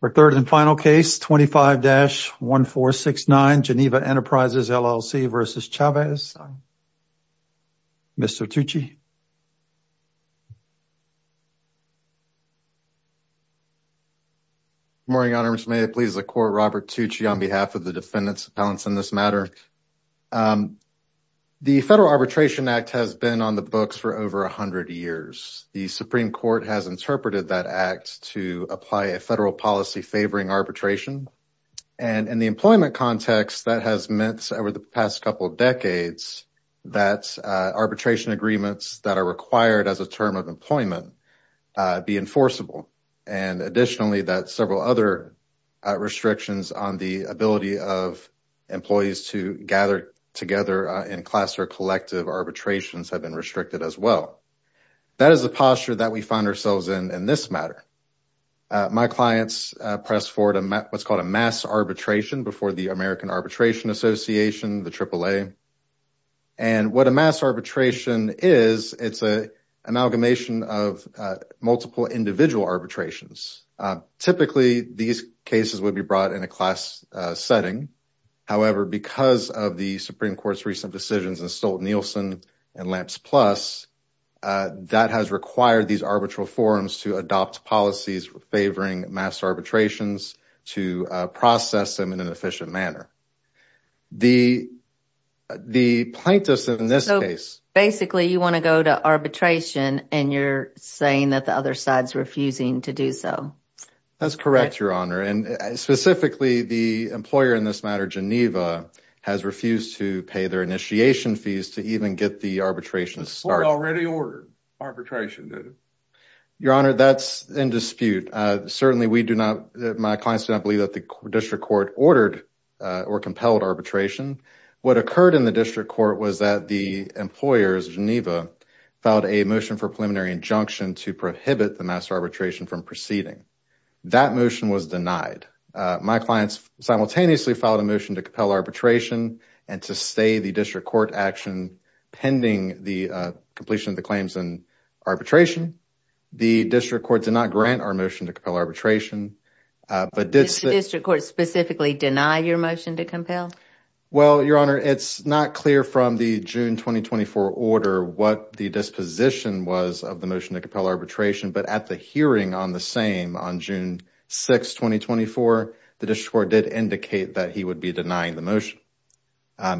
For third and final case 25-1469, Geneva Enterprises, LLC v. Chavez, Mr. Tucci. Good morning, Your Honor. May it please the Court, Robert Tucci on behalf of the Defendants Appellants in this matter. The Federal Arbitration Act has been on the books for over 100 years. The Supreme Court has interpreted that act to apply a federal policy favoring arbitration. And in the employment context, that has meant over the past couple of decades that arbitration agreements that are required as a term of employment be enforceable. And additionally, that several other restrictions on the ability of employees to gather together in class or collective arbitrations have been restricted as well. That is the posture that we find ourselves in in this matter. My clients pressed forward what's called a mass arbitration before the American Arbitration Association, the AAA. And what a mass arbitration is, it's an amalgamation of multiple individual arbitrations. Typically, these cases would be brought in a class setting. However, because of the Supreme Court's recent decisions in Stolt-Nielsen and Lamps Plus, that has required these arbitral forums to adopt policies favoring mass arbitrations to process them in an efficient manner. The plaintiffs in this case... So basically, you want to go to arbitration and you're saying that the other refusing to do so. That's correct, Your Honor. And specifically, the employer in this matter, Geneva, has refused to pay their initiation fees to even get the arbitration started. The court already ordered arbitration, did it? Your Honor, that's in dispute. Certainly, my clients do not believe that the district court ordered or compelled arbitration. What occurred in the district court was that the employers, Geneva, filed a motion for preliminary injunction to prohibit the mass arbitration from proceeding. That motion was denied. My clients simultaneously filed a motion to compel arbitration and to stay the district court action pending the completion of the claims in arbitration. The district court did not grant our motion to compel arbitration. Did the district court specifically deny your motion to compel? Well, Your Honor, it's not clear from the June 2024 order what the disposition was of the motion to compel arbitration, but at the hearing on the same on June 6, 2024, the district court did indicate that he would be denying the motion.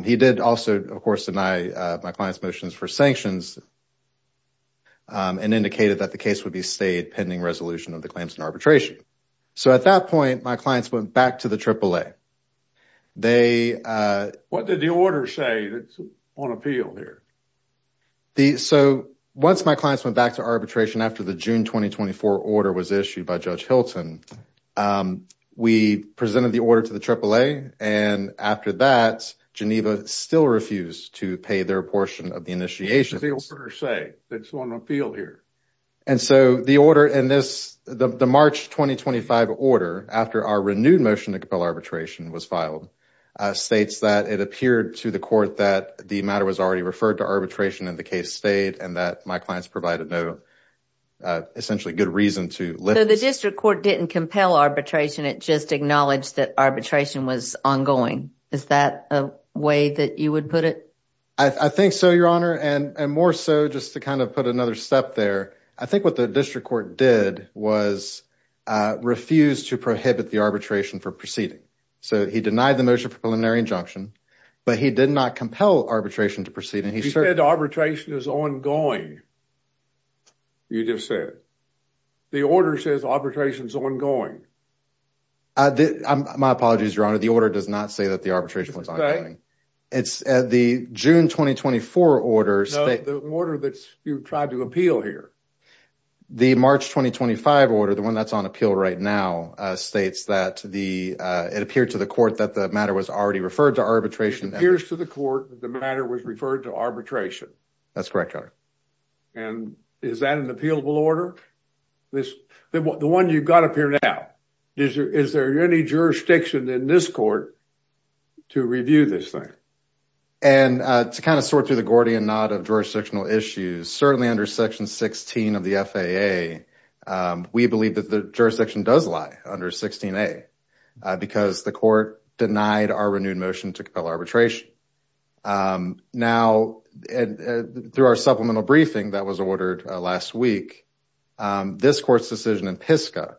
He did also, of course, deny my client's motions for sanctions and indicated that the case would be stayed pending resolution of the claims in So, at that point, my clients went back to the AAA. What did the order say that's on appeal here? So, once my clients went back to arbitration after the June 2024 order was issued by Judge Hilton, we presented the order to the AAA, and after that, Geneva still refused to pay their portion What did the order say that's on appeal here? And so, the order in this, the March 2025 order, after our renewed motion to compel arbitration was filed, states that it appeared to the court that the matter was already referred to arbitration and the case stayed and that my clients provided no essentially good reason to lift. So, the district court didn't compel arbitration. It just acknowledged that arbitration was ongoing. Is that a way that you would put it? I think so, Your Honor. And more so, just to kind of put another step there, I think what the district court did was refuse to prohibit the arbitration for proceeding. So, he denied the motion for preliminary injunction, but he did not compel arbitration to proceed. He said arbitration is ongoing, you just said. The order says arbitration is ongoing. My apologies, Your Honor. The order does not say that the arbitration was ongoing. It's the June 2024 order. No, the order that you tried to appeal here. The March 2025 order, the one that's on appeal right now, states that it appeared to the court that the matter was already referred to arbitration. It appears to the court that the matter was referred to arbitration. That's correct, Your Honor. And is that an appealable order? The one you've got up here now, is there any jurisdiction in this court to review this thing? And to kind of sort through the Gordian knot of jurisdictional issues, certainly under section 16 of the FAA, we believe that the jurisdiction does lie under 16a, because the court denied our renewed motion to compel arbitration. Now, through our supplemental briefing that was ordered last week, this court's decision in PISCA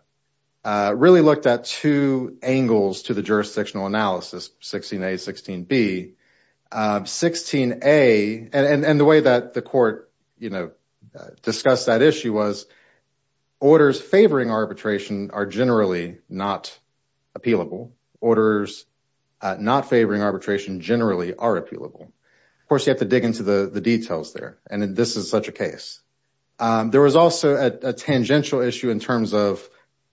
really looked at two angles to the jurisdictional analysis, 16a, 16b. 16a, and the way that the court, you know, discussed that issue was orders favoring arbitration are generally not appealable. Orders not favoring arbitration generally are appealable. Of course, you have to dig into the details there, and this is such a case. There was also a tangential issue in terms of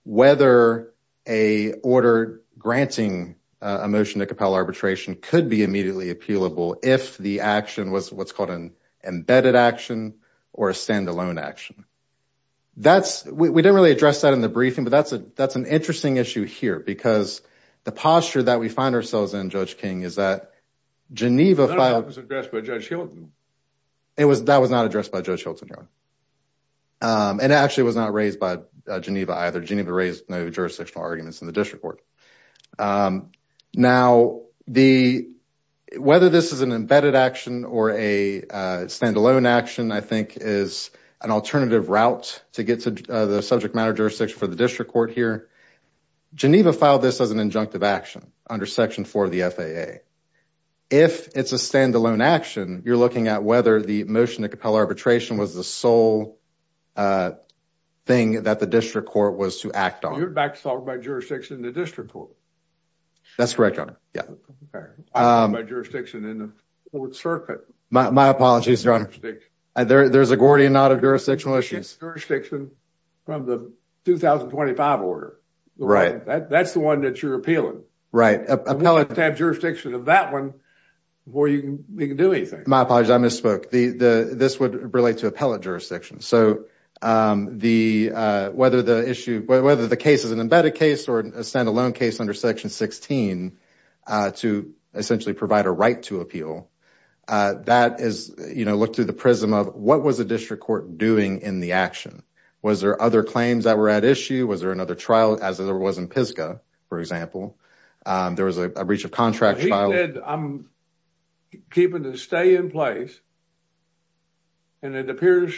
whether a order granting a motion to compel arbitration could be immediately appealable if the action was what's called an embedded action or a standalone action. That's, we didn't really address that in the briefing, but that's an interesting issue here, because the posture that we find ourselves in, Judge King, is that Geneva filed... That was addressed by Judge Hilton. It was, that was not addressed by Judge Hilton, and actually was not raised by Geneva either. Geneva raised no jurisdictional arguments in the district court. Now, whether this is an embedded action or a standalone action, I think is an alternative route to get to the subject matter jurisdiction for the district court here. Geneva filed this as an injunctive action under Section 4 of the FAA. If it's a standalone action, you're looking at whether the motion to compel arbitration was the sole thing that the district court was to act on. You're back to talk about jurisdiction in the district court. That's correct, Your Honor. By jurisdiction in the court circuit. My apologies, Your Honor. There's a Gordian knot of jurisdictional issues. Jurisdiction from the 2025 order. Right. That's the one that you're appealing. Right. Appellate jurisdiction of that one before you can do anything. My apologies, I misspoke. This would relate to appellate jurisdiction. So, whether the issue, whether the case is an embedded case or a standalone case under Section 16 to essentially provide a right to appeal, that is, you know, look through the prism of what was the district court doing in the action? Was there other claims that were at issue? Was there another trial as there was in Pisgah, for example? There was a breach of contract trial. He said, I'm keeping the stay in place. And it appears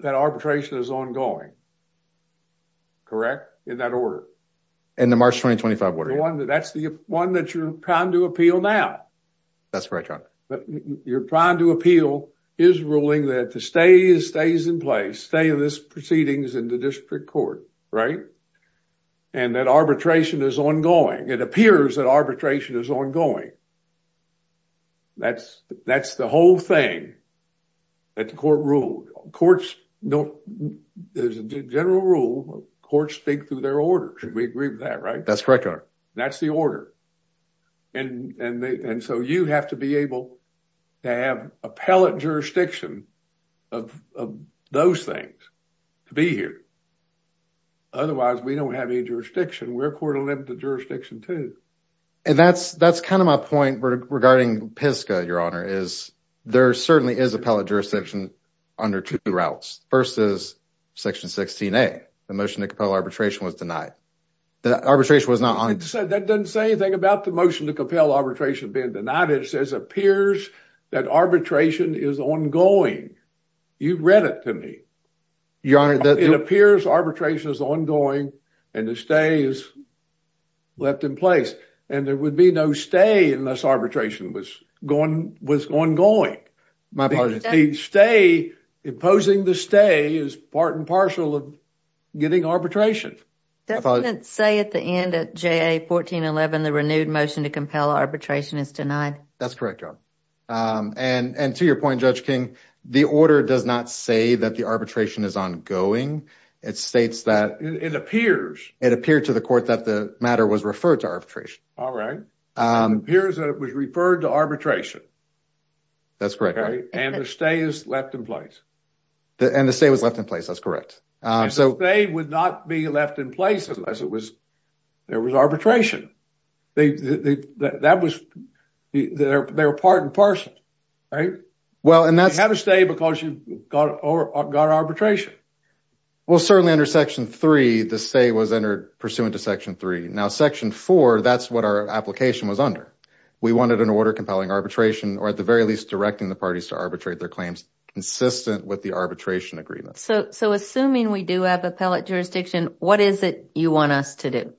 that arbitration is ongoing. Correct? In that order. In the March 2025 order. That's the one that you're trying to appeal now. That's right, Your Honor. But you're trying to appeal his ruling that the stay stays in place. Stay in this proceedings in the district court. Right. And that arbitration is ongoing. It appears that arbitration is ongoing. That's the whole thing that the court ruled. Courts don't, there's a general rule, courts speak through their order. Should we agree with that, right? That's correct, Your Honor. That's the order. And so, you have to be able to have appellate jurisdiction of those things to be here. Otherwise, we don't have any jurisdiction. We're court-limited jurisdiction too. And that's kind of my point regarding Pisgah, Your Honor, is there certainly is appellate jurisdiction under two routes. First is Section 16A, the motion to compel arbitration was denied. The arbitration was not on. That doesn't say anything about the motion to compel arbitration being denied. It says, appears that arbitration is ongoing. You've read it to me. Your Honor. It appears arbitration is ongoing and the stay is left in place. And there would be no stay unless arbitration was ongoing. My apologies. The stay, imposing the stay is part and parcel of getting arbitration. That doesn't say at the end of JA 1411, the renewed motion to compel arbitration is denied. That's correct, Your Honor. And to your point, Judge King, the order does not say that the arbitration is ongoing. It states that. It appears. It appeared to the court that the matter was referred to arbitration. All right. It appears that it was referred to arbitration. That's correct. And the stay is left in place. And the stay was left in place. That's correct. And the stay would not be left in place unless there was arbitration. They, that was, they were part and parcel. Well, and that's. You have a stay because you got arbitration. Well, certainly under section three, the stay was entered pursuant to section three. Now section four, that's what our application was under. We wanted an order compelling arbitration or at the very least directing the parties to arbitrate their claims consistent with the arbitration agreement. So, so assuming we do have appellate jurisdiction, what is it you want us to do?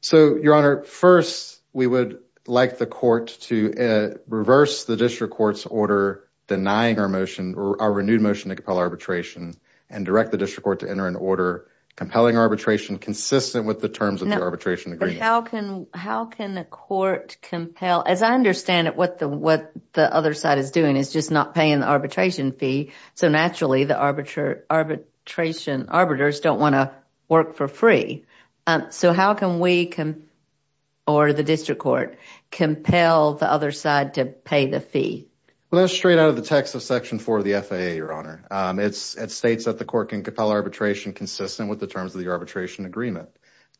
So your honor, first we would like the court to reverse the district court's order denying our motion or our renewed motion to compel arbitration and direct the district court to enter an order compelling arbitration consistent with the terms of the arbitration. How can the court compel, as I understand it, what the, what the other side is doing is just not paying the arbitration fee. So naturally the arbiter arbitration arbiters don't want to work for free. So how can we, or the district court, compel the other side to pay the fee? Well, that's straight out of the text of section four of the FAA, your honor. It states that the court can compel arbitration consistent with the terms of the arbitration agreement.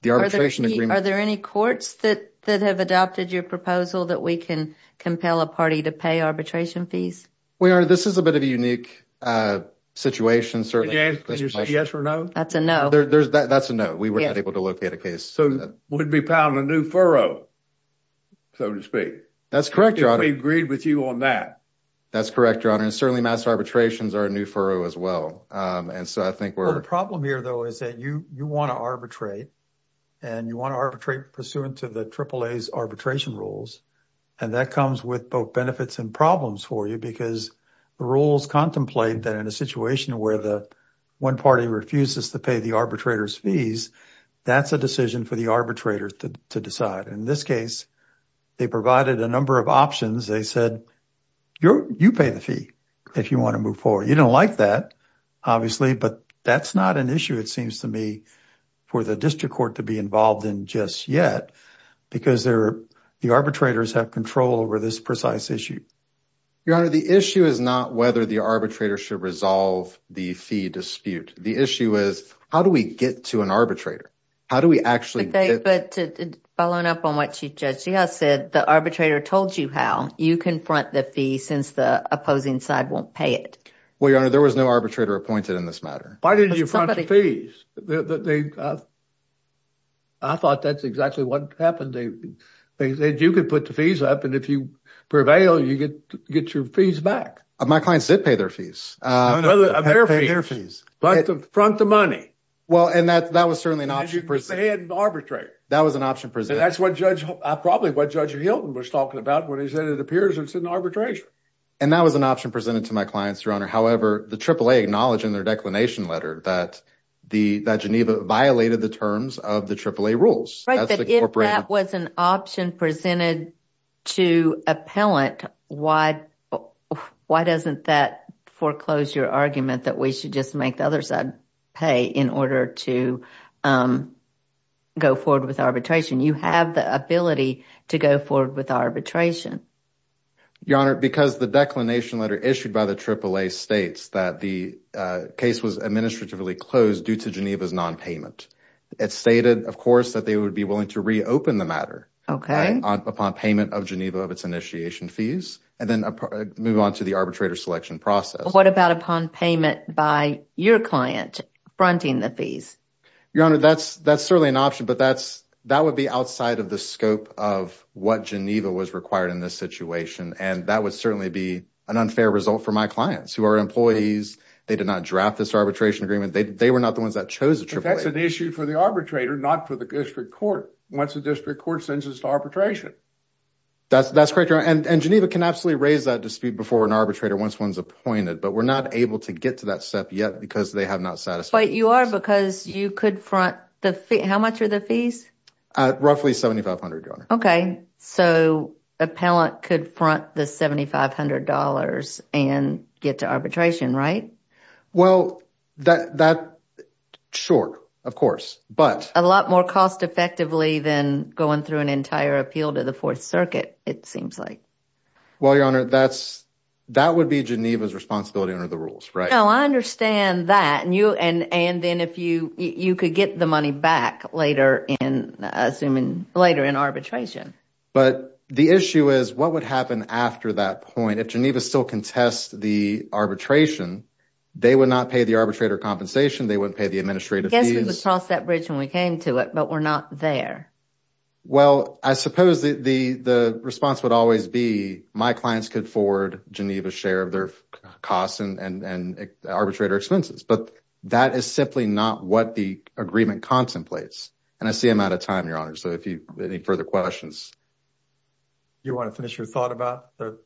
The arbitration agreement. Are there any courts that have adopted your proposal that we can compel a party to pay arbitration fees? We are. This is a bit of a unique situation, certainly. Can you say yes or no? That's a no. That's a no. We weren't able to locate a case. So we'd be pounding a new furrow, so to speak. That's correct, your honor. We've agreed with you on that. That's correct, your honor. And certainly mass arbitrations are a new furrow as well. And so I think we're. The problem here, though, is that you, you want to arbitrate and you want to arbitrate pursuant to the AAA's arbitration rules. And that comes with both benefits and problems for you because the rules contemplate that a situation where the one party refuses to pay the arbitrator's fees, that's a decision for the arbitrator to decide. In this case, they provided a number of options. They said, you pay the fee if you want to move forward. You don't like that, obviously, but that's not an issue. It seems to me for the district court to be involved in just yet because they're the arbitrators have control over this precise issue. Your honor, the issue is not whether the arbitrator should resolve the fee dispute. The issue is, how do we get to an arbitrator? How do we actually. Following up on what you just said, the arbitrator told you how you can front the fee since the opposing side won't pay it. Well, your honor, there was no arbitrator appointed in this matter. Why did you front the fees? I thought that's exactly what happened. They said you could put the fees up, and if you prevail, you get your fees back. My clients did pay their fees. No, no, they didn't pay their fees. But to front the money. Well, and that was certainly an option presented. They didn't arbitrate. That was an option presented. And that's probably what Judge Hilton was talking about when he said it appears it's an arbitration. And that was an option presented to my clients, your honor. However, the AAA acknowledged in their declination letter that Geneva violated the terms of the AAA rules. If that was an option presented to appellant, why doesn't that foreclose your argument that we should just make the other side pay in order to go forward with arbitration? You have the ability to go forward with arbitration. Your honor, because the declination letter issued by the AAA states that the case was administratively closed due to Geneva's nonpayment. It stated, of course, that they would be willing to reopen the matter upon payment of Geneva of its initiation fees and then move on to the arbitrator selection process. What about upon payment by your client fronting the fees? Your honor, that's certainly an option, but that would be outside of the scope of what Geneva was required in this situation. And that would certainly be an unfair result for my clients who are employees. They did not draft this arbitration agreement. They were not the ones that chose AAA. That's an issue for the arbitrator, not for the district court. Once the district court sends us to arbitration. That's correct, your honor. And Geneva can absolutely raise that dispute before an arbitrator once one's appointed, but we're not able to get to that step yet because they have not satisfied us. But you are because you could front the fee. How much are the fees? Roughly $7,500, your honor. Okay, so appellant could front the $7,500 and get to arbitration, right? Well, that short, of course, but a lot more cost effectively than going through an entire appeal to the fourth circuit. It seems like, well, your honor, that's, that would be Geneva's responsibility under the rules, right? Now I understand that. And you, and, and then if you, you could get the money back later in assuming later in But the issue is what would happen after that point? Geneva still can test the arbitration. They would not pay the arbitrator compensation. They wouldn't pay the administrative fees. I guess we would cross that bridge when we came to it, but we're not there. Well, I suppose the, the, the response would always be my clients could forward Geneva's share of their costs and, and, and arbitrator expenses. But that is simply not what the agreement contemplates. And I see I'm out of time, your honor. So if you have any further questions. You want to finish your thought about the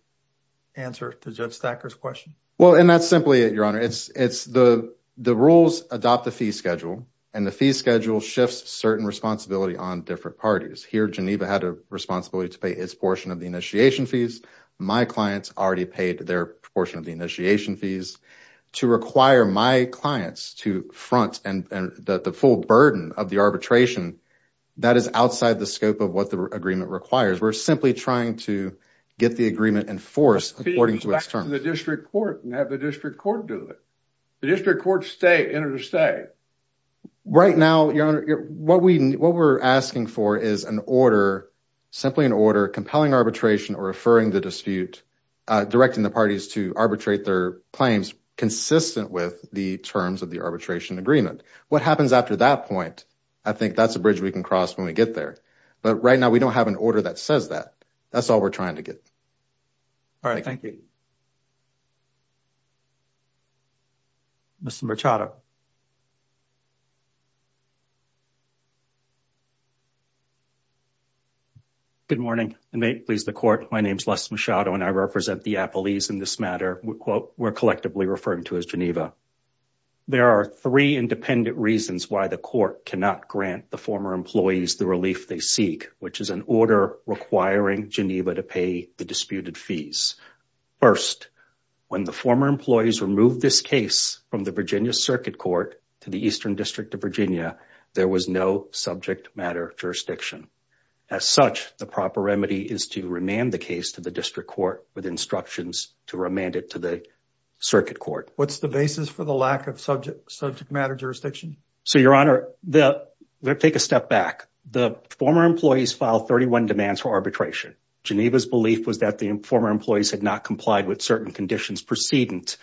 answer to judge stackers question? Well, and that's simply it, your honor. It's, it's the, the rules adopt the fee schedule and the fee schedule shifts certain responsibility on different parties here. Geneva had a responsibility to pay its portion of the initiation fees. My clients already paid their portion of the initiation fees to require my clients to front and the full burden of the arbitration that is outside the scope of what the agreement requires. We're simply trying to get the agreement in force, according to the district court and have the district court do it. The district court stay interstate right now. Your honor, what we, what we're asking for is an order, simply an order compelling arbitration or referring the dispute, directing the parties to arbitrate their claims consistent with the terms of the arbitration agreement. What happens after that point? I think that's a bridge we can cross when we get there. But right now we don't have an order that says that that's all we're trying to get. All right. Thank you. Mr. Good morning and may it please the court. My name is Les Machado and I represent the Appalese in this matter. We're collectively referring to as Geneva. There are three independent reasons why the court cannot grant the former employees the relief they seek, which is an order requiring Geneva to pay the disputed fees. First, when the former employees removed this case from the Virginia circuit court to the Eastern district of Virginia, there was no subject matter jurisdiction. As such, the proper remedy is to remand the case to the district court with instructions to remand it to the circuit court. What's the basis for the lack of subject matter jurisdiction? So your honor, let's take a step back. The former employees filed 31 demands for arbitration. Geneva's belief was that the former employees had not complied with certain conditions precedent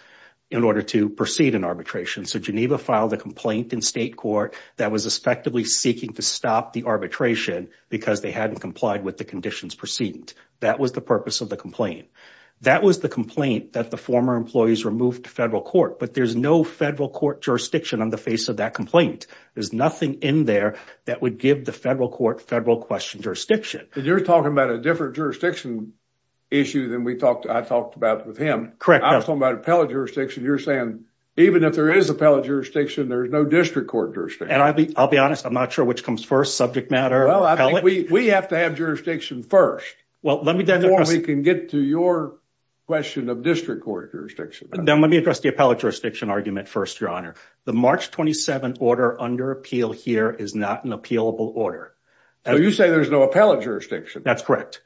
in order to proceed in arbitration. So Geneva filed a complaint in state court that was effectively seeking to stop the arbitration because they hadn't complied with the conditions precedent. That was the purpose of the complaint. That was the complaint that the former employees removed to federal court. But there's no federal court jurisdiction on the face of that complaint. There's nothing in there that would give the federal court federal question jurisdiction. You're talking about a different jurisdiction issue than I talked about with him. Correct. I was talking about appellate jurisdiction. You're saying even if there is appellate jurisdiction, there is no district court jurisdiction. And I'll be honest. I'm not sure which comes first, subject matter or appellate. We have to have jurisdiction first before we can get to your question of district court jurisdiction. Now, let me address the appellate jurisdiction argument first, your honor. The March 27 order under appeal here is not an appealable order. You say there's no appellate jurisdiction. That's correct.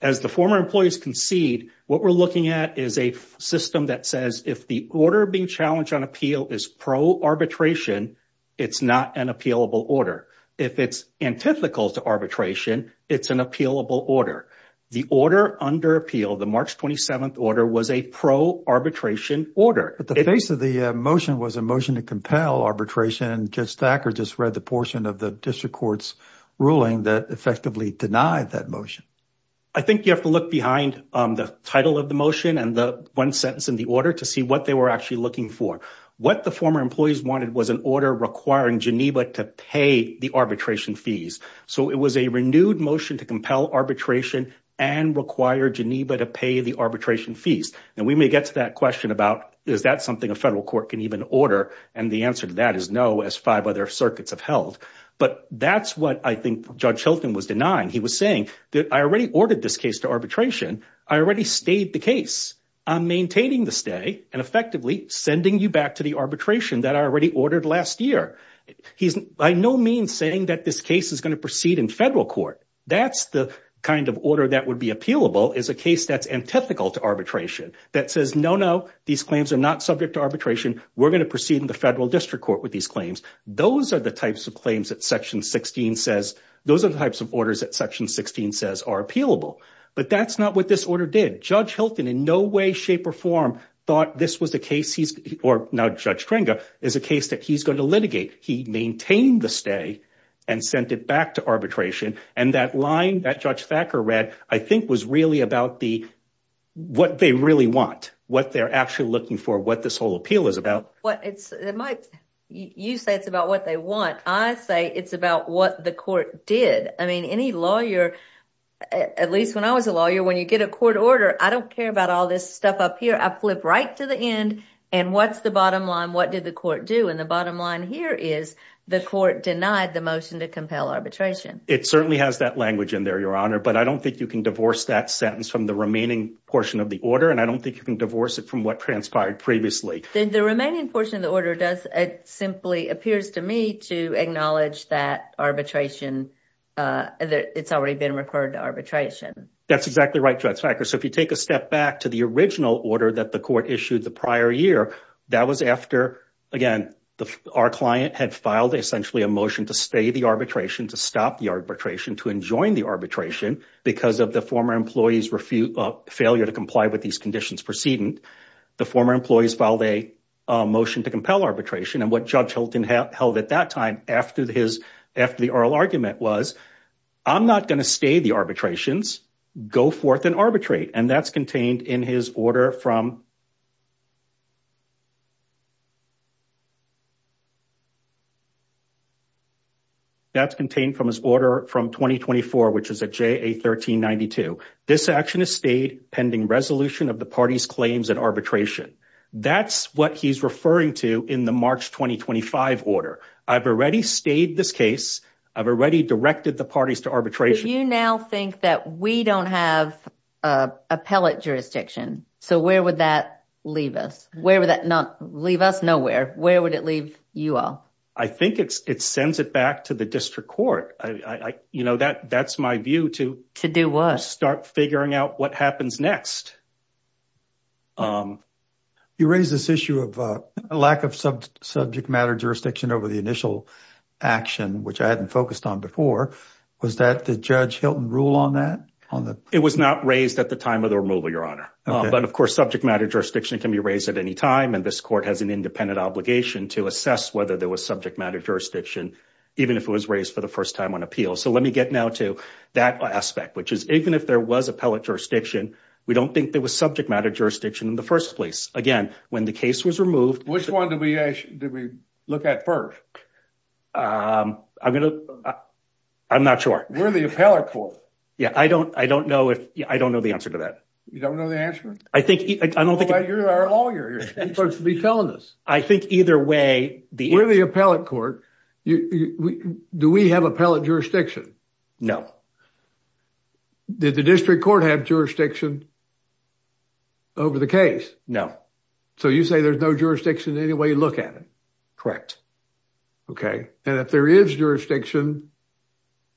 As the former employees concede, what we're looking at is a system that says if the order being challenged on appeal is pro arbitration, it's not an appealable order. If it's antithetical to arbitration, it's an appealable order. The order under appeal, the March 27 order was a pro arbitration order. At the base of the motion was a motion to compel arbitration. Judge Thacker just read the portion of the district court's ruling that effectively denied that motion. I think you have to look behind the title of the motion and the one sentence in the order to see what they were actually looking for. What the former employees wanted was an order requiring Geneva to pay the arbitration fees. It was a renewed motion to compel arbitration and require Geneva to pay the arbitration fees. We may get to that question about is that something a federal court can even order? The answer to that is no, as five other circuits have held. That's what I think Judge Hilton was denying. He was saying that I already ordered this case to arbitration. I already stayed the case. I'm maintaining the stay and effectively sending you back to the arbitration that I already ordered last year. He's by no means saying that this case is going to proceed in federal court. That's the kind of order that would be appealable is a case that's antithetical to arbitration that says, no, no, these claims are not subject to arbitration. We're going to proceed in the federal district court with these claims. Those are the types of claims that section 16 says. Those are the types of orders that section 16 says are appealable. But that's not what this order did. Judge Hilton in no way, shape or form thought this was the case he's or now Judge is a case that he's going to litigate. He maintained the stay and sent it back to arbitration. And that line that Judge Thacker read, I think, was really about the what they really want, what they're actually looking for, what this whole appeal is about. You say it's about what they want. I say it's about what the court did. I mean, any lawyer, at least when I was a lawyer, when you get a court order, I don't care about all this stuff up here. I flip right to the end. And what's the bottom line? What did the court do? And the bottom line here is the court denied the motion to compel arbitration. It certainly has that language in there, Your Honor. But I don't think you can divorce that sentence from the remaining portion of the order. And I don't think you can divorce it from what transpired previously. The remaining portion of the order does it simply appears to me to acknowledge that arbitration. It's already been referred to arbitration. That's exactly right, Judge Thacker. So if you take a step back to the original order that the court issued the prior year, that was after, again, our client had filed essentially a motion to stay the arbitration, to stop the arbitration, to enjoin the arbitration because of the former employee's failure to comply with these conditions precedent. The former employees filed a motion to compel arbitration. And what Judge Hilton held at that time after the oral argument was, I'm not going to stay the arbitrations. Go forth and arbitrate. And that's contained in his order from. That's contained from his order from 2024, which is a JA 1392. This action is stayed pending resolution of the party's claims and arbitration. That's what he's referring to in the March 2025 order. I've already stayed this case. I've already directed the parties to arbitration. You now think that we don't have an appellate jurisdiction. So where would that leave us? Where would that leave us? Nowhere. Where would it leave you all? I think it sends it back to the district court. You know, that's my view to start figuring out what happens next. You raise this issue of a lack of subject matter jurisdiction over the initial action, which I hadn't focused on before. Was that the Judge Hilton rule on that? It was not raised at the time of the removal, Your Honor. But of course, subject matter jurisdiction can be raised at any time. And this court has an independent obligation to assess whether there was subject matter jurisdiction, even if it was raised for the first time on appeal. So let me get now to that aspect, which is even if there was appellate jurisdiction, we don't think there was subject matter jurisdiction in the first place. Again, when the case was removed. Which one do we look at first? I'm going to, I'm not sure. Where the appellate court? Yeah, I don't, I don't know if, I don't know the answer to that. You don't know the answer? I think, I don't think. You're our lawyer, you're supposed to be telling us. I think either way. Where the appellate court, do we have appellate jurisdiction? No. Did the district court have jurisdiction over the case? No. So you say there's no jurisdiction any way you look at it? Correct. Okay, and if there is jurisdiction,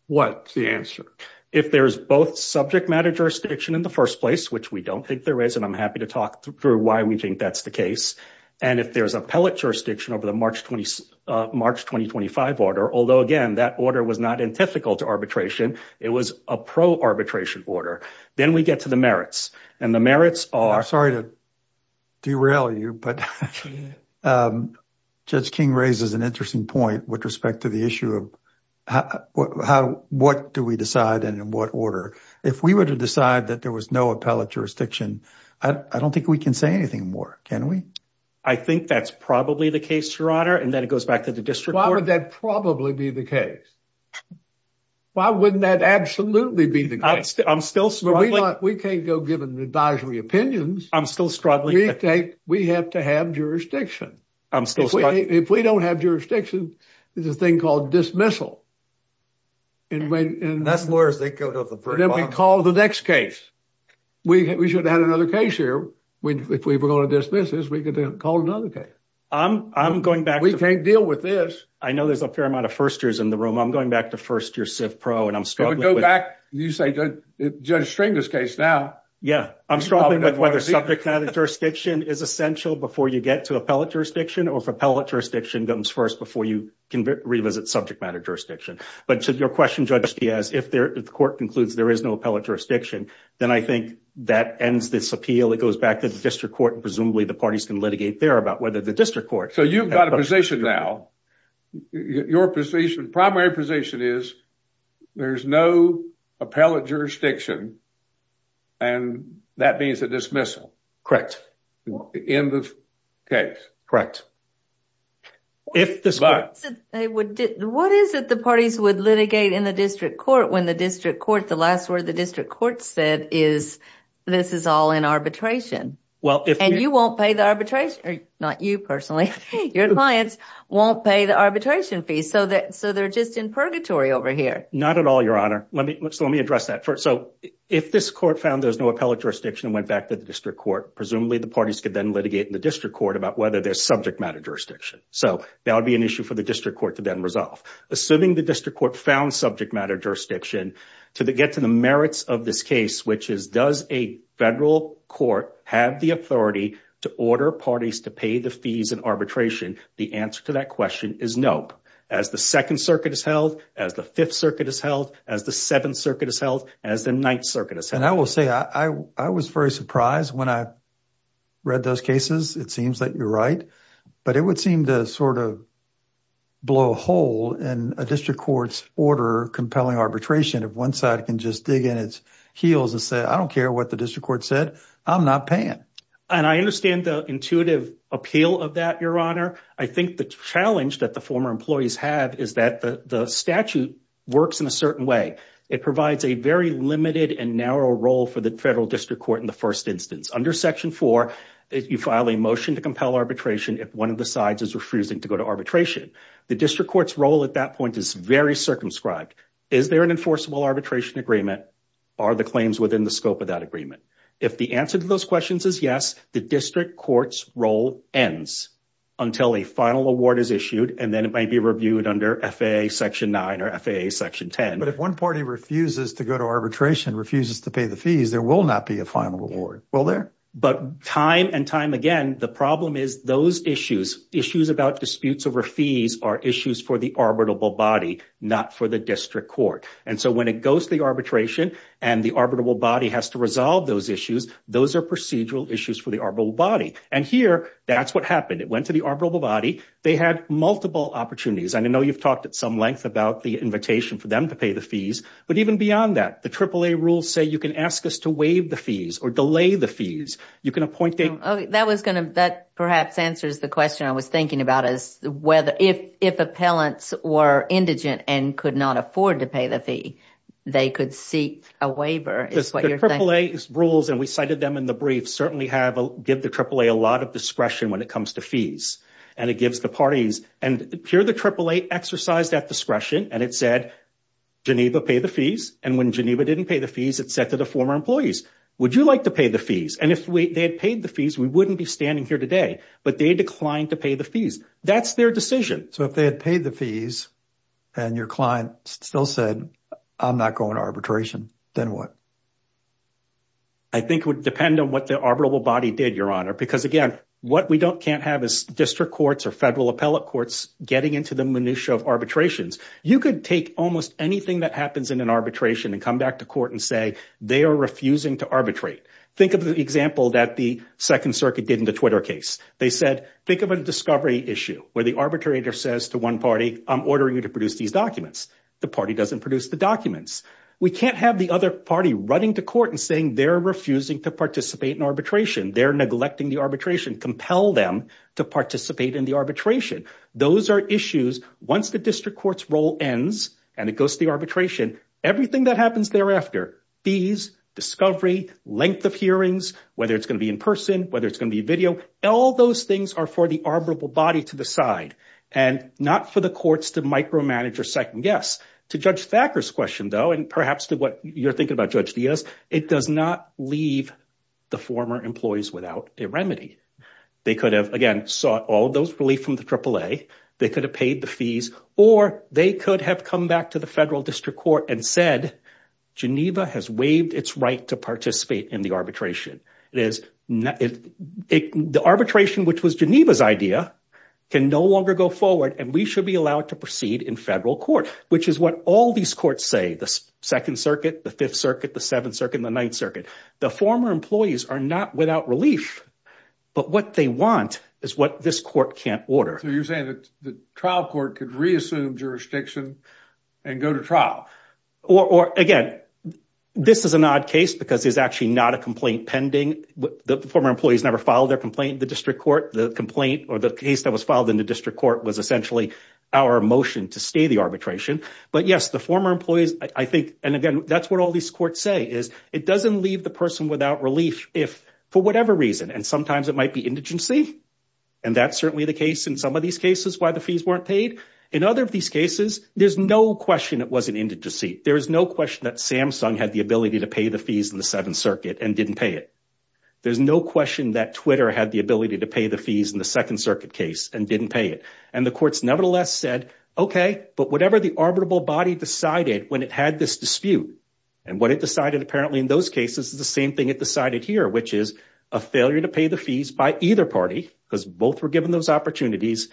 what's the answer? If there's both subject matter jurisdiction in the first place, which we don't think there is, and I'm happy to talk through why we think that's the case. And if there's appellate jurisdiction over the March 2025 order, although again, that order was not antithetical to arbitration. It was a pro-arbitration order. Then we get to the merits. And the merits are. Sorry to derail you, but Judge King raises an interesting point with respect to the issue of what do we decide and in what order. If we were to decide that there was no appellate jurisdiction, I don't think we can say anything more, can we? I think that's probably the case, Your Honor. And then it goes back to the district court. Why would that probably be the case? Why wouldn't that absolutely be the case? I'm still struggling. We can't go giving advisory opinions. I'm still struggling. We have to have jurisdiction. I'm still struggling. If we don't have jurisdiction, there's a thing called dismissal. And that's lawyers, they go to the very bottom. And then we call the next case. We should have had another case here. If we were going to dismiss this, we could have called another case. I'm going back. We can't deal with this. I know there's a fair amount of first years in the room. I'm going back to first-year civ pro and I'm struggling. You say Judge Stringer's case now. Yeah, I'm struggling with whether subject matter jurisdiction is essential before you get to appellate jurisdiction or if appellate jurisdiction comes first before you can revisit subject matter jurisdiction. But to your question, Judge Diaz, if the court concludes there is no appellate jurisdiction, then I think that ends this appeal. It goes back to the district court. Presumably the parties can litigate there about whether the district court. So you've got a position now. Your position, primary position is there's no appellate jurisdiction. And that means a dismissal. End of case. If the court said they would, what is it the parties would litigate in the district court when the district court, the last word the district court said is, this is all in arbitration. Well, and you won't pay the arbitration. Not you personally. Your clients won't pay the arbitration fees so that so they're just in purgatory over here. Not at all, Your Honor. Let me let's let me address that first. So if this court found there's no appellate jurisdiction and went back to the district court, presumably the parties could then litigate in the district court about whether there's subject matter jurisdiction. So that would be an issue for the district court to then resolve. Assuming the district court found subject matter jurisdiction to get to the merits of this case, which is does a federal court have the authority to order parties to pay the arbitration fees in arbitration? The answer to that question is nope. As the Second Circuit is held, as the Fifth Circuit is held, as the Seventh Circuit is held, as the Ninth Circuit is held. And I will say I was very surprised when I read those cases. It seems that you're right, but it would seem to sort of blow a hole in a district court's order compelling arbitration. If one side can just dig in its heels and say, I don't care what the district court said, I'm not paying. And I understand the intuitive appeal of that, Your Honor. I think the challenge that the former employees have is that the statute works in a certain way. It provides a very limited and narrow role for the federal district court in the first instance. Under Section 4, you file a motion to compel arbitration if one of the sides is refusing to go to arbitration. The district court's role at that point is very circumscribed. Is there an enforceable arbitration agreement? Are the claims within the scope of that agreement? If the answer to those questions is yes, the district court's role ends until a final award is issued, and then it might be reviewed under FAA Section 9 or FAA Section 10. But if one party refuses to go to arbitration, refuses to pay the fees, there will not be a final award, will there? But time and time again, the problem is those issues, issues about disputes over fees are issues for the arbitrable body, not for the district court. And so when it goes to the arbitration and the arbitrable body has to resolve those issues, those are procedural issues for the arbitrable body. And here, that's what happened. It went to the arbitrable body. They had multiple opportunities. I know you've talked at some length about the invitation for them to pay the fees. But even beyond that, the AAA rules say you can ask us to waive the fees or delay the You can appoint them. That was going to, that perhaps answers the question I was thinking about is whether, if appellants were indigent and could not afford to pay the fee, they could seek a waiver. The AAA's rules, and we cited them in the brief, certainly have, give the AAA a lot of discretion when it comes to fees. And it gives the parties, and here the AAA exercised that discretion. And it said Geneva pay the fees. And when Geneva didn't pay the fees, it said to the former employees, would you like to pay the fees? And if they had paid the fees, we wouldn't be standing here today. But they declined to pay the fees. That's their decision. So if they had paid the fees and your client still said, I'm not going to arbitration, then what? I think it would depend on what the arbitrable body did, Your Honor. Because again, what we can't have is district courts or federal appellate courts getting into the minutia of arbitrations. You could take almost anything that happens in an arbitration and come back to court and say they are refusing to arbitrate. Think of the example that the Second Circuit did in the Twitter case. They said, think of a discovery issue where the arbitrator says to one party, I'm ordering you to produce these documents. The party doesn't produce the documents. We can't have the other party running to court and saying they're refusing to participate in arbitration. They're neglecting the arbitration. Compel them to participate in the arbitration. Those are issues. Once the district court's role ends and it goes to the arbitration, everything that happens thereafter, fees, discovery, length of hearings, whether it's going to be in person, whether are for the arbitrable body to decide and not for the courts to micromanage or second guess. To Judge Thacker's question, though, and perhaps to what you're thinking about, Judge Diaz, it does not leave the former employees without a remedy. They could have, again, sought all those relief from the AAA. They could have paid the fees or they could have come back to the federal district court and said, Geneva has waived its right to participate in the arbitration. It is the arbitration, which was Geneva's idea, can no longer go forward and we should be allowed to proceed in federal court, which is what all these courts say. The Second Circuit, the Fifth Circuit, the Seventh Circuit, the Ninth Circuit, the former employees are not without relief, but what they want is what this court can't order. So you're saying that the trial court could reassume jurisdiction and go to trial? Or again, this is an odd case because there's actually not a complaint pending. The former employees never filed their complaint in the district court. The complaint or the case that was filed in the district court was essentially our motion to stay the arbitration. But yes, the former employees, I think, and again, that's what all these courts say, is it doesn't leave the person without relief if, for whatever reason, and sometimes it might be indigency. And that's certainly the case in some of these cases why the fees weren't paid. In other of these cases, there's no question it wasn't indigency. There is no question that Samsung had the ability to pay the fees in the Seventh Circuit and didn't pay it. There's no question that Twitter had the ability to pay the fees in the Second Circuit case and didn't pay it. And the courts nevertheless said, okay, but whatever the arbitrable body decided when it had this dispute, and what it decided apparently in those cases is the same thing it decided here, which is a failure to pay the fees by either party because both were given those opportunities,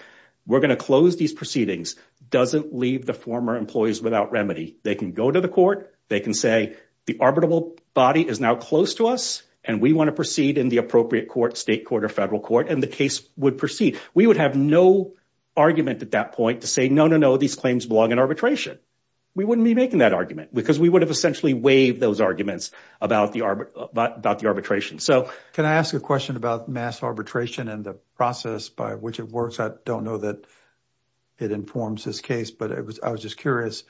we're going to close these proceedings, doesn't leave the former employees without remedy. They can go to the court. They can say the arbitrable body is now close to us, and we want to proceed in the appropriate court, state court or federal court, and the case would proceed. We would have no argument at that point to say, no, no, no, these claims belong in arbitration. We wouldn't be making that argument because we would have essentially waived those arguments about the arbitration. Can I ask a question about mass arbitration and the process by which it works? I don't know that it informs this case, but I was just curious.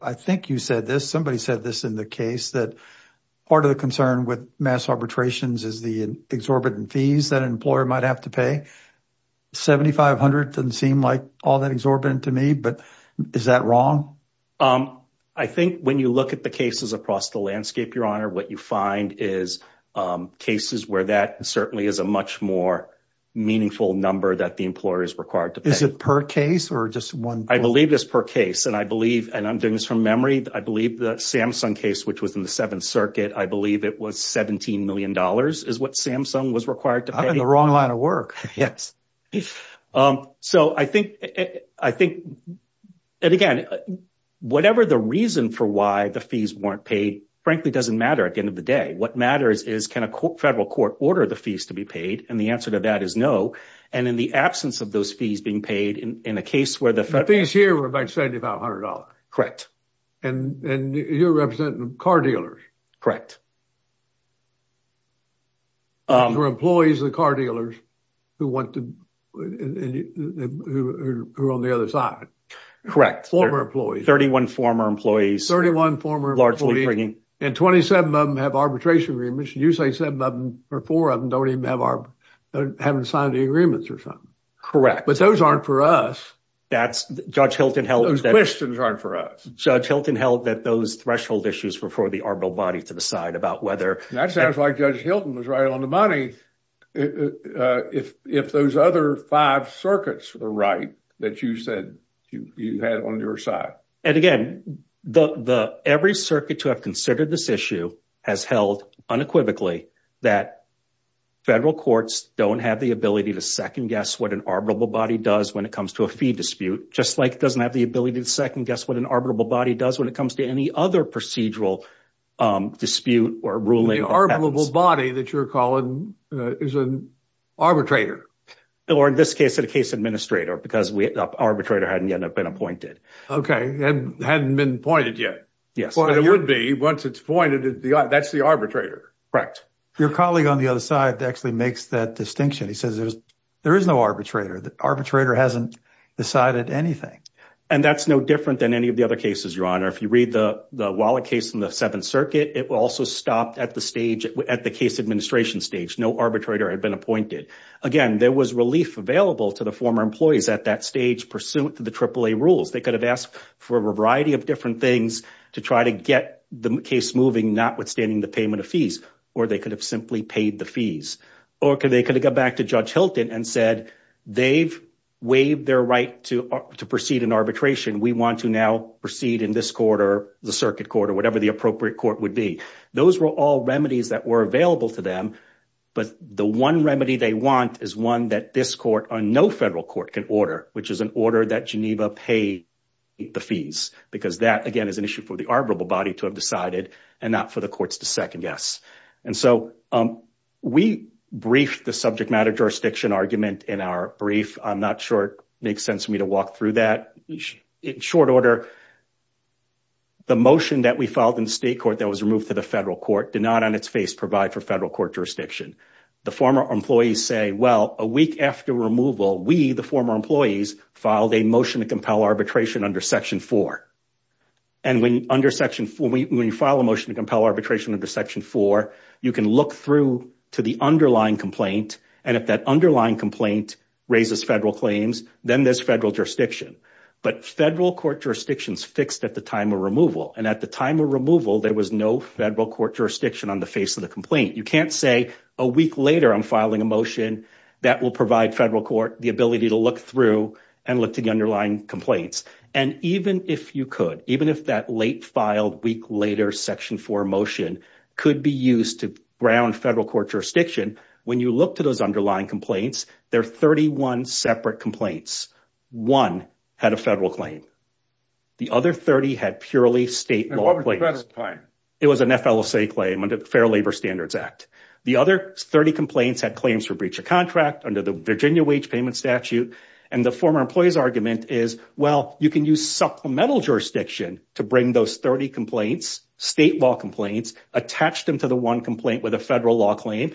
I think you said this. Somebody said this in the case that part of the concern with mass arbitrations is the exorbitant fees that an employer might have to pay. $7,500 doesn't seem like all that exorbitant to me, but is that wrong? I think when you look at the cases across the landscape, Your Honor, what you find is cases where that certainly is a much more meaningful number that the employer is required to pay. Is it per case or just one? I believe it's per case, and I'm doing this from memory. I believe the Samsung case, which was in the Seventh Circuit, I believe it was $17 million is what Samsung was required to pay. I'm in the wrong line of work. So I think, and again, whatever the reason for why the fees weren't paid frankly doesn't matter at the end of the day. What matters is can a federal court order the fees to be paid? And the answer to that is no. And in the absence of those fees being paid in a case where the federal... The fees here were about $7,500. Correct. And you're representing car dealers. Correct. For employees of the car dealers who want to, who are on the other side. Correct. Former employees. 31 former employees. 31 former employees. And 27 of them have arbitration agreements. You say seven of them or four of them don't even have our, haven't signed the agreements or something. Correct. But those aren't for us. That's, Judge Hilton held- Those questions aren't for us. Judge Hilton held that those threshold issues were for the arbitral body to decide about whether- That sounds like Judge Hilton was right on the money if those other five circuits were right that you said you had on your side. And again, every circuit to have considered this issue has held unequivocally that federal courts don't have the ability to second guess what an arbitrable body does when it comes to a fee dispute. Just like it doesn't have the ability to second guess what an arbitrable body does when it comes to any other procedural dispute or ruling. The arbitrable body that you're calling is an arbitrator. Or in this case, a case administrator because the arbitrator hadn't yet been appointed. Okay. And hadn't been appointed yet. Yes. But it would be once it's appointed, that's the arbitrator. Correct. Your colleague on the other side actually makes that distinction. He says there is no arbitrator. The arbitrator hasn't decided anything. And that's no different than any of the other cases, Your Honor. If you read the Wallach case in the Seventh Circuit, it also stopped at the case administration stage. No arbitrator had been appointed. Again, there was relief available to the former employees at that stage pursuant to the AAA rules. They could have asked for a variety of different things to try to get the case moving, not withstanding the payment of fees. Or they could have simply paid the fees. Or they could have gone back to Judge Hilton and said, they've waived their right to proceed in arbitration. We want to now proceed in this court or the circuit court or whatever the appropriate court would be. Those were all remedies that were available to them. But the one remedy they want is one that this court or no federal court can order, which is an order that Geneva pay the fees. Because that, again, is an issue for the arbitrable body to have decided and not for the courts to second guess. And so we briefed the subject matter jurisdiction argument in our brief. I'm not sure it makes sense for me to walk through that. In short order, the motion that we filed in the state court that was removed to the federal court did not on its face provide for federal court jurisdiction. The former employees say, well, a week after removal, we, the former employees, filed a motion to compel arbitration under Section 4. And when you file a motion to compel arbitration under Section 4, you can look through to the underlying complaint. And if that underlying complaint raises federal claims, then there's federal jurisdiction. But federal court jurisdictions fixed at the time of removal. And at the time of removal, there was no federal court jurisdiction on the face of the complaint. You can't say a week later, I'm filing a motion that will provide federal court the ability to look through and look to the underlying complaints. And even if you could, even if that late filed week later, Section 4 motion could be used to ground federal court jurisdiction. When you look to those underlying complaints, there are 31 separate complaints. One had a federal claim. The other 30 had purely state law. It was an FLSA claim under the Fair Labor Standards Act. The other 30 complaints had claims for breach of contract under the Virginia wage payment statute. And the former employee's argument is, well, you can use supplemental jurisdiction to bring those 30 complaints, state law complaints, attach them to the one complaint with a federal law claim.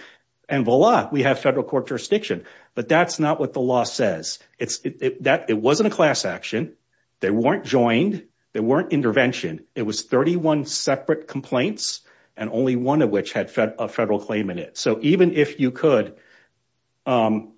And voila, we have federal court jurisdiction. But that's not what the law says. It wasn't a class action. They weren't joined. There weren't intervention. It was 31 separate complaints, and only one of which had a federal claim in it. So even if you could, even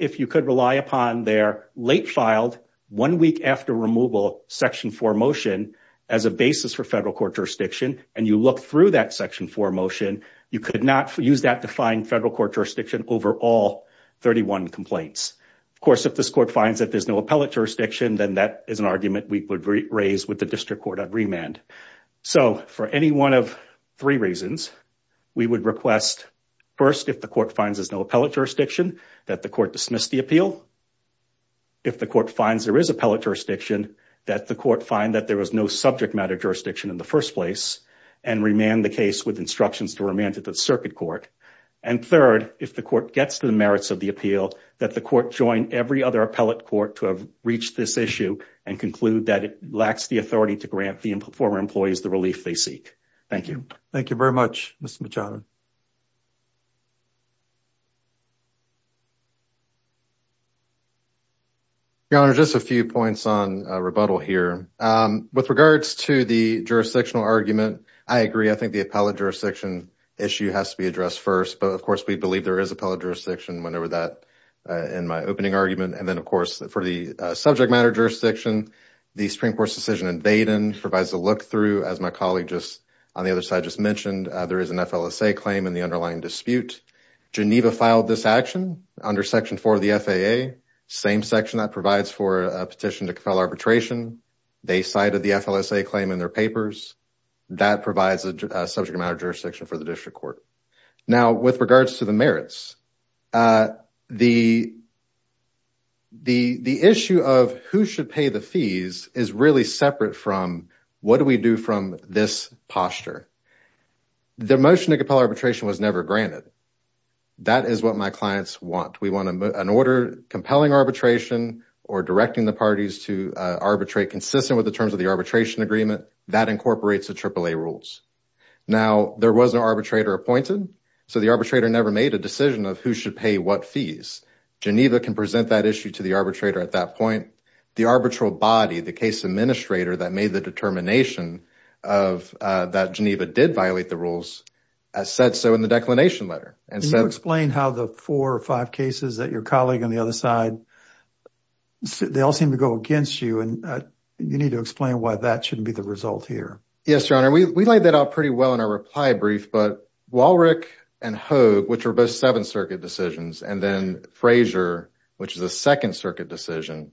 if you could rely upon their late filed, one week after removal, Section 4 motion as a basis for federal court jurisdiction, and you look through that Section 4 motion, you could not use that to find federal court jurisdiction over all 31 complaints. Of course, if this court finds that there's no appellate jurisdiction, then that is an So for any one of three reasons, we would request, first, if the court finds there's no appellate jurisdiction, that the court dismiss the appeal. If the court finds there is appellate jurisdiction, that the court find that there was no subject matter jurisdiction in the first place and remand the case with instructions to remand it to the circuit court. And third, if the court gets to the merits of the appeal, that the court join every other appellate court to have reached this issue and conclude that it lacks the authority to for employees the relief they seek. Thank you. Thank you very much, Mr. Machado. Your Honor, just a few points on rebuttal here. With regards to the jurisdictional argument, I agree. I think the appellate jurisdiction issue has to be addressed first. But of course, we believe there is appellate jurisdiction whenever that in my opening argument. And then, of course, for the subject matter jurisdiction, the Supreme Court's decision provides a look through, as my colleague just on the other side just mentioned. There is an FLSA claim in the underlying dispute. Geneva filed this action under Section 4 of the FAA. Same section that provides for a petition to file arbitration. They cited the FLSA claim in their papers. That provides a subject matter jurisdiction for the district court. Now, with regards to the merits, the issue of who should pay the fees is really separate from what do we do from this posture. The motion to compel arbitration was never granted. That is what my clients want. We want an order compelling arbitration or directing the parties to arbitrate consistent with the terms of the arbitration agreement. That incorporates the AAA rules. Now, there was an arbitrator appointed. So the arbitrator never made a decision of who should pay what fees. Geneva can present that issue to the arbitrator at that point. The arbitral body, the case administrator that made the determination of that Geneva did violate the rules, said so in the declination letter. Can you explain how the four or five cases that your colleague on the other side, they all seem to go against you. And you need to explain why that shouldn't be the result here. Yes, Your Honor. We laid that out pretty well in our reply brief. But Walrick and Hogue, which are both Seventh Circuit decisions, and then Frazier, which is a Second Circuit decision.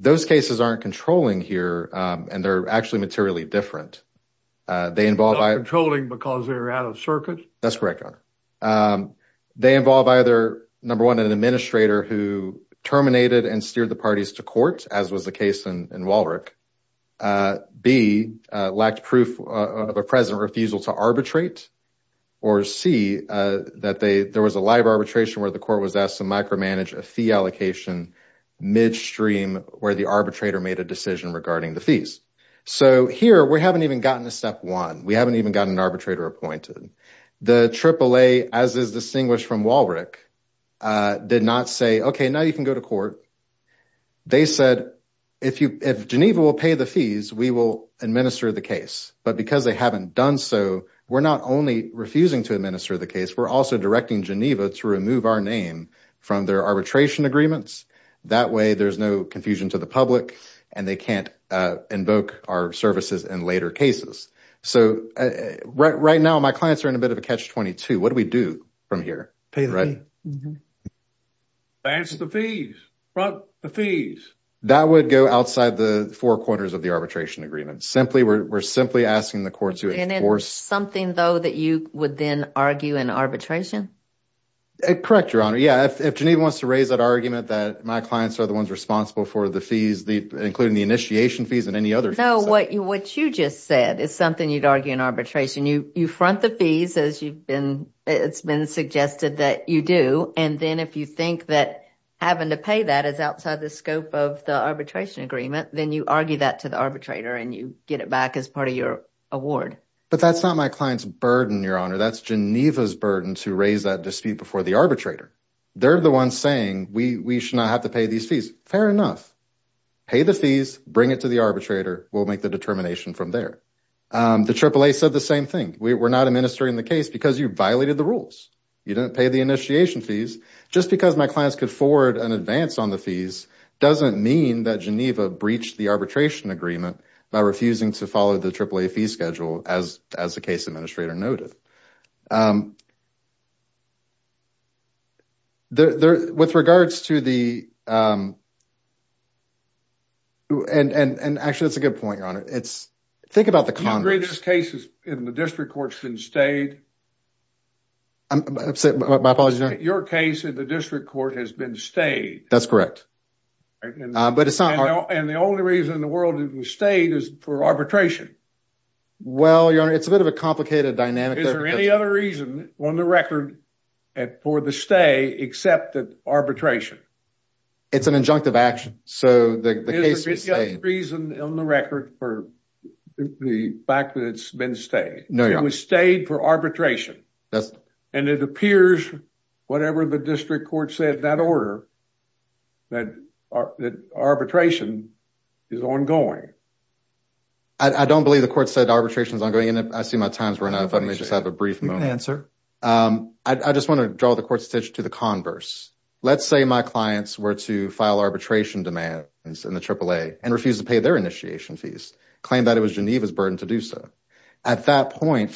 Those cases aren't controlling here. And they're actually materially different. They involve controlling because they're out of circuit. That's correct, Your Honor. They involve either, number one, an administrator who terminated and steered the parties to court, as was the case in Walrick. B, lacked proof of a present refusal to arbitrate. Or C, that there was a live arbitration where the court was asked to micromanage a fee allocation midstream where the arbitrator made a decision regarding the fees. So here, we haven't even gotten to step one. We haven't even gotten an arbitrator appointed. The AAA, as is distinguished from Walrick, did not say, okay, now you can go to court. They said, if Geneva will pay the fees, we will administer the case. But because they haven't done so, we're not only refusing to administer the case, we're also directing Geneva to remove our name from their arbitration agreements. That way, there's no confusion to the public, and they can't invoke our services in later cases. So right now, my clients are in a bit of a catch-22. What do we do from here? Pay the fees. Advance the fees. Front the fees. That would go outside the four corners of the arbitration agreement. We're simply asking the courts to enforce— Isn't it something, though, that you would then argue in arbitration? Correct, Your Honor. Yeah, if Geneva wants to raise that argument that my clients are the ones responsible for the fees, including the initiation fees and any other fees— No, what you just said is something you'd argue in arbitration. You front the fees, as it's been suggested that you do. And then if you think that having to pay that is outside the scope of the arbitration agreement, then you argue that to the arbitrator, and you get it back as part of your award. But that's not my client's burden, Your Honor. That's Geneva's burden to raise that dispute before the arbitrator. They're the ones saying we should not have to pay these fees. Fair enough. Pay the fees. Bring it to the arbitrator. We'll make the determination from there. The AAA said the same thing. We're not administering the case because you violated the rules. You didn't pay the initiation fees. Just because my clients could forward an advance on the fees doesn't mean that Geneva breached the arbitration agreement by refusing to follow the AAA fee schedule, as the case administrator noted. And actually, that's a good point, Your Honor. It's—think about the Congress— Do you agree this case in the district court has been stayed? I'm sorry, my apologies, Your Honor? Your case in the district court has been stayed. That's correct. But it's not— And the only reason in the world it was stayed is for arbitration. Well, Your Honor, it's a bit of a complicated dynamic. Is there any other reason on the record for the stay except that arbitration? It's an injunctive action. So the case was stayed. Is there any other reason on the record for the fact that it's been stayed? No, Your Honor. It was stayed for arbitration. And it appears, whatever the district court said in that order, that arbitration is ongoing. I don't believe the court said arbitration is ongoing. And I see my time's running out. If I may just have a brief moment. I just want to draw the court's attention to the converse. Let's say my clients were to file arbitration demands in the AAA and refuse to pay their initiation fees, claim that it was Geneva's burden to do so. At that point,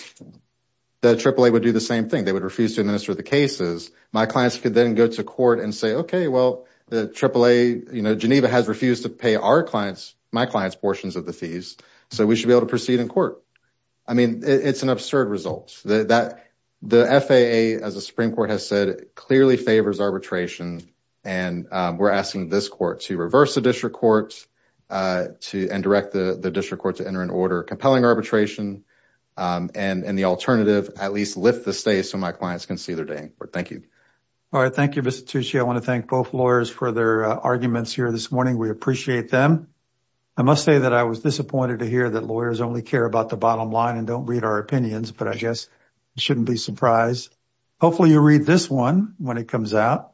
the AAA would do the same thing. They would refuse to administer the cases. My clients could then go to court and say, OK, well, the AAA, you know, Geneva has refused to pay our clients, my clients' portions of the fees. So we should be able to proceed in court. I mean, it's an absurd result. The FAA, as the Supreme Court has said, clearly favors arbitration. And we're asking this court to reverse the district court and direct the district court to enter in order. Compelling arbitration and the alternative, at least lift the stay so my clients can see their day in court. All right. Thank you, Mr. Tucci. I want to thank both lawyers for their arguments here this morning. We appreciate them. I must say that I was disappointed to hear that lawyers only care about the bottom line and don't read our opinions. But I guess you shouldn't be surprised. Hopefully, you'll read this one when it comes out.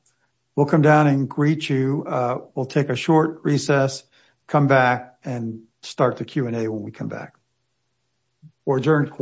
We'll come down and greet you. We'll take a short recess, come back, and start the Q&A when we come back. Adjourned.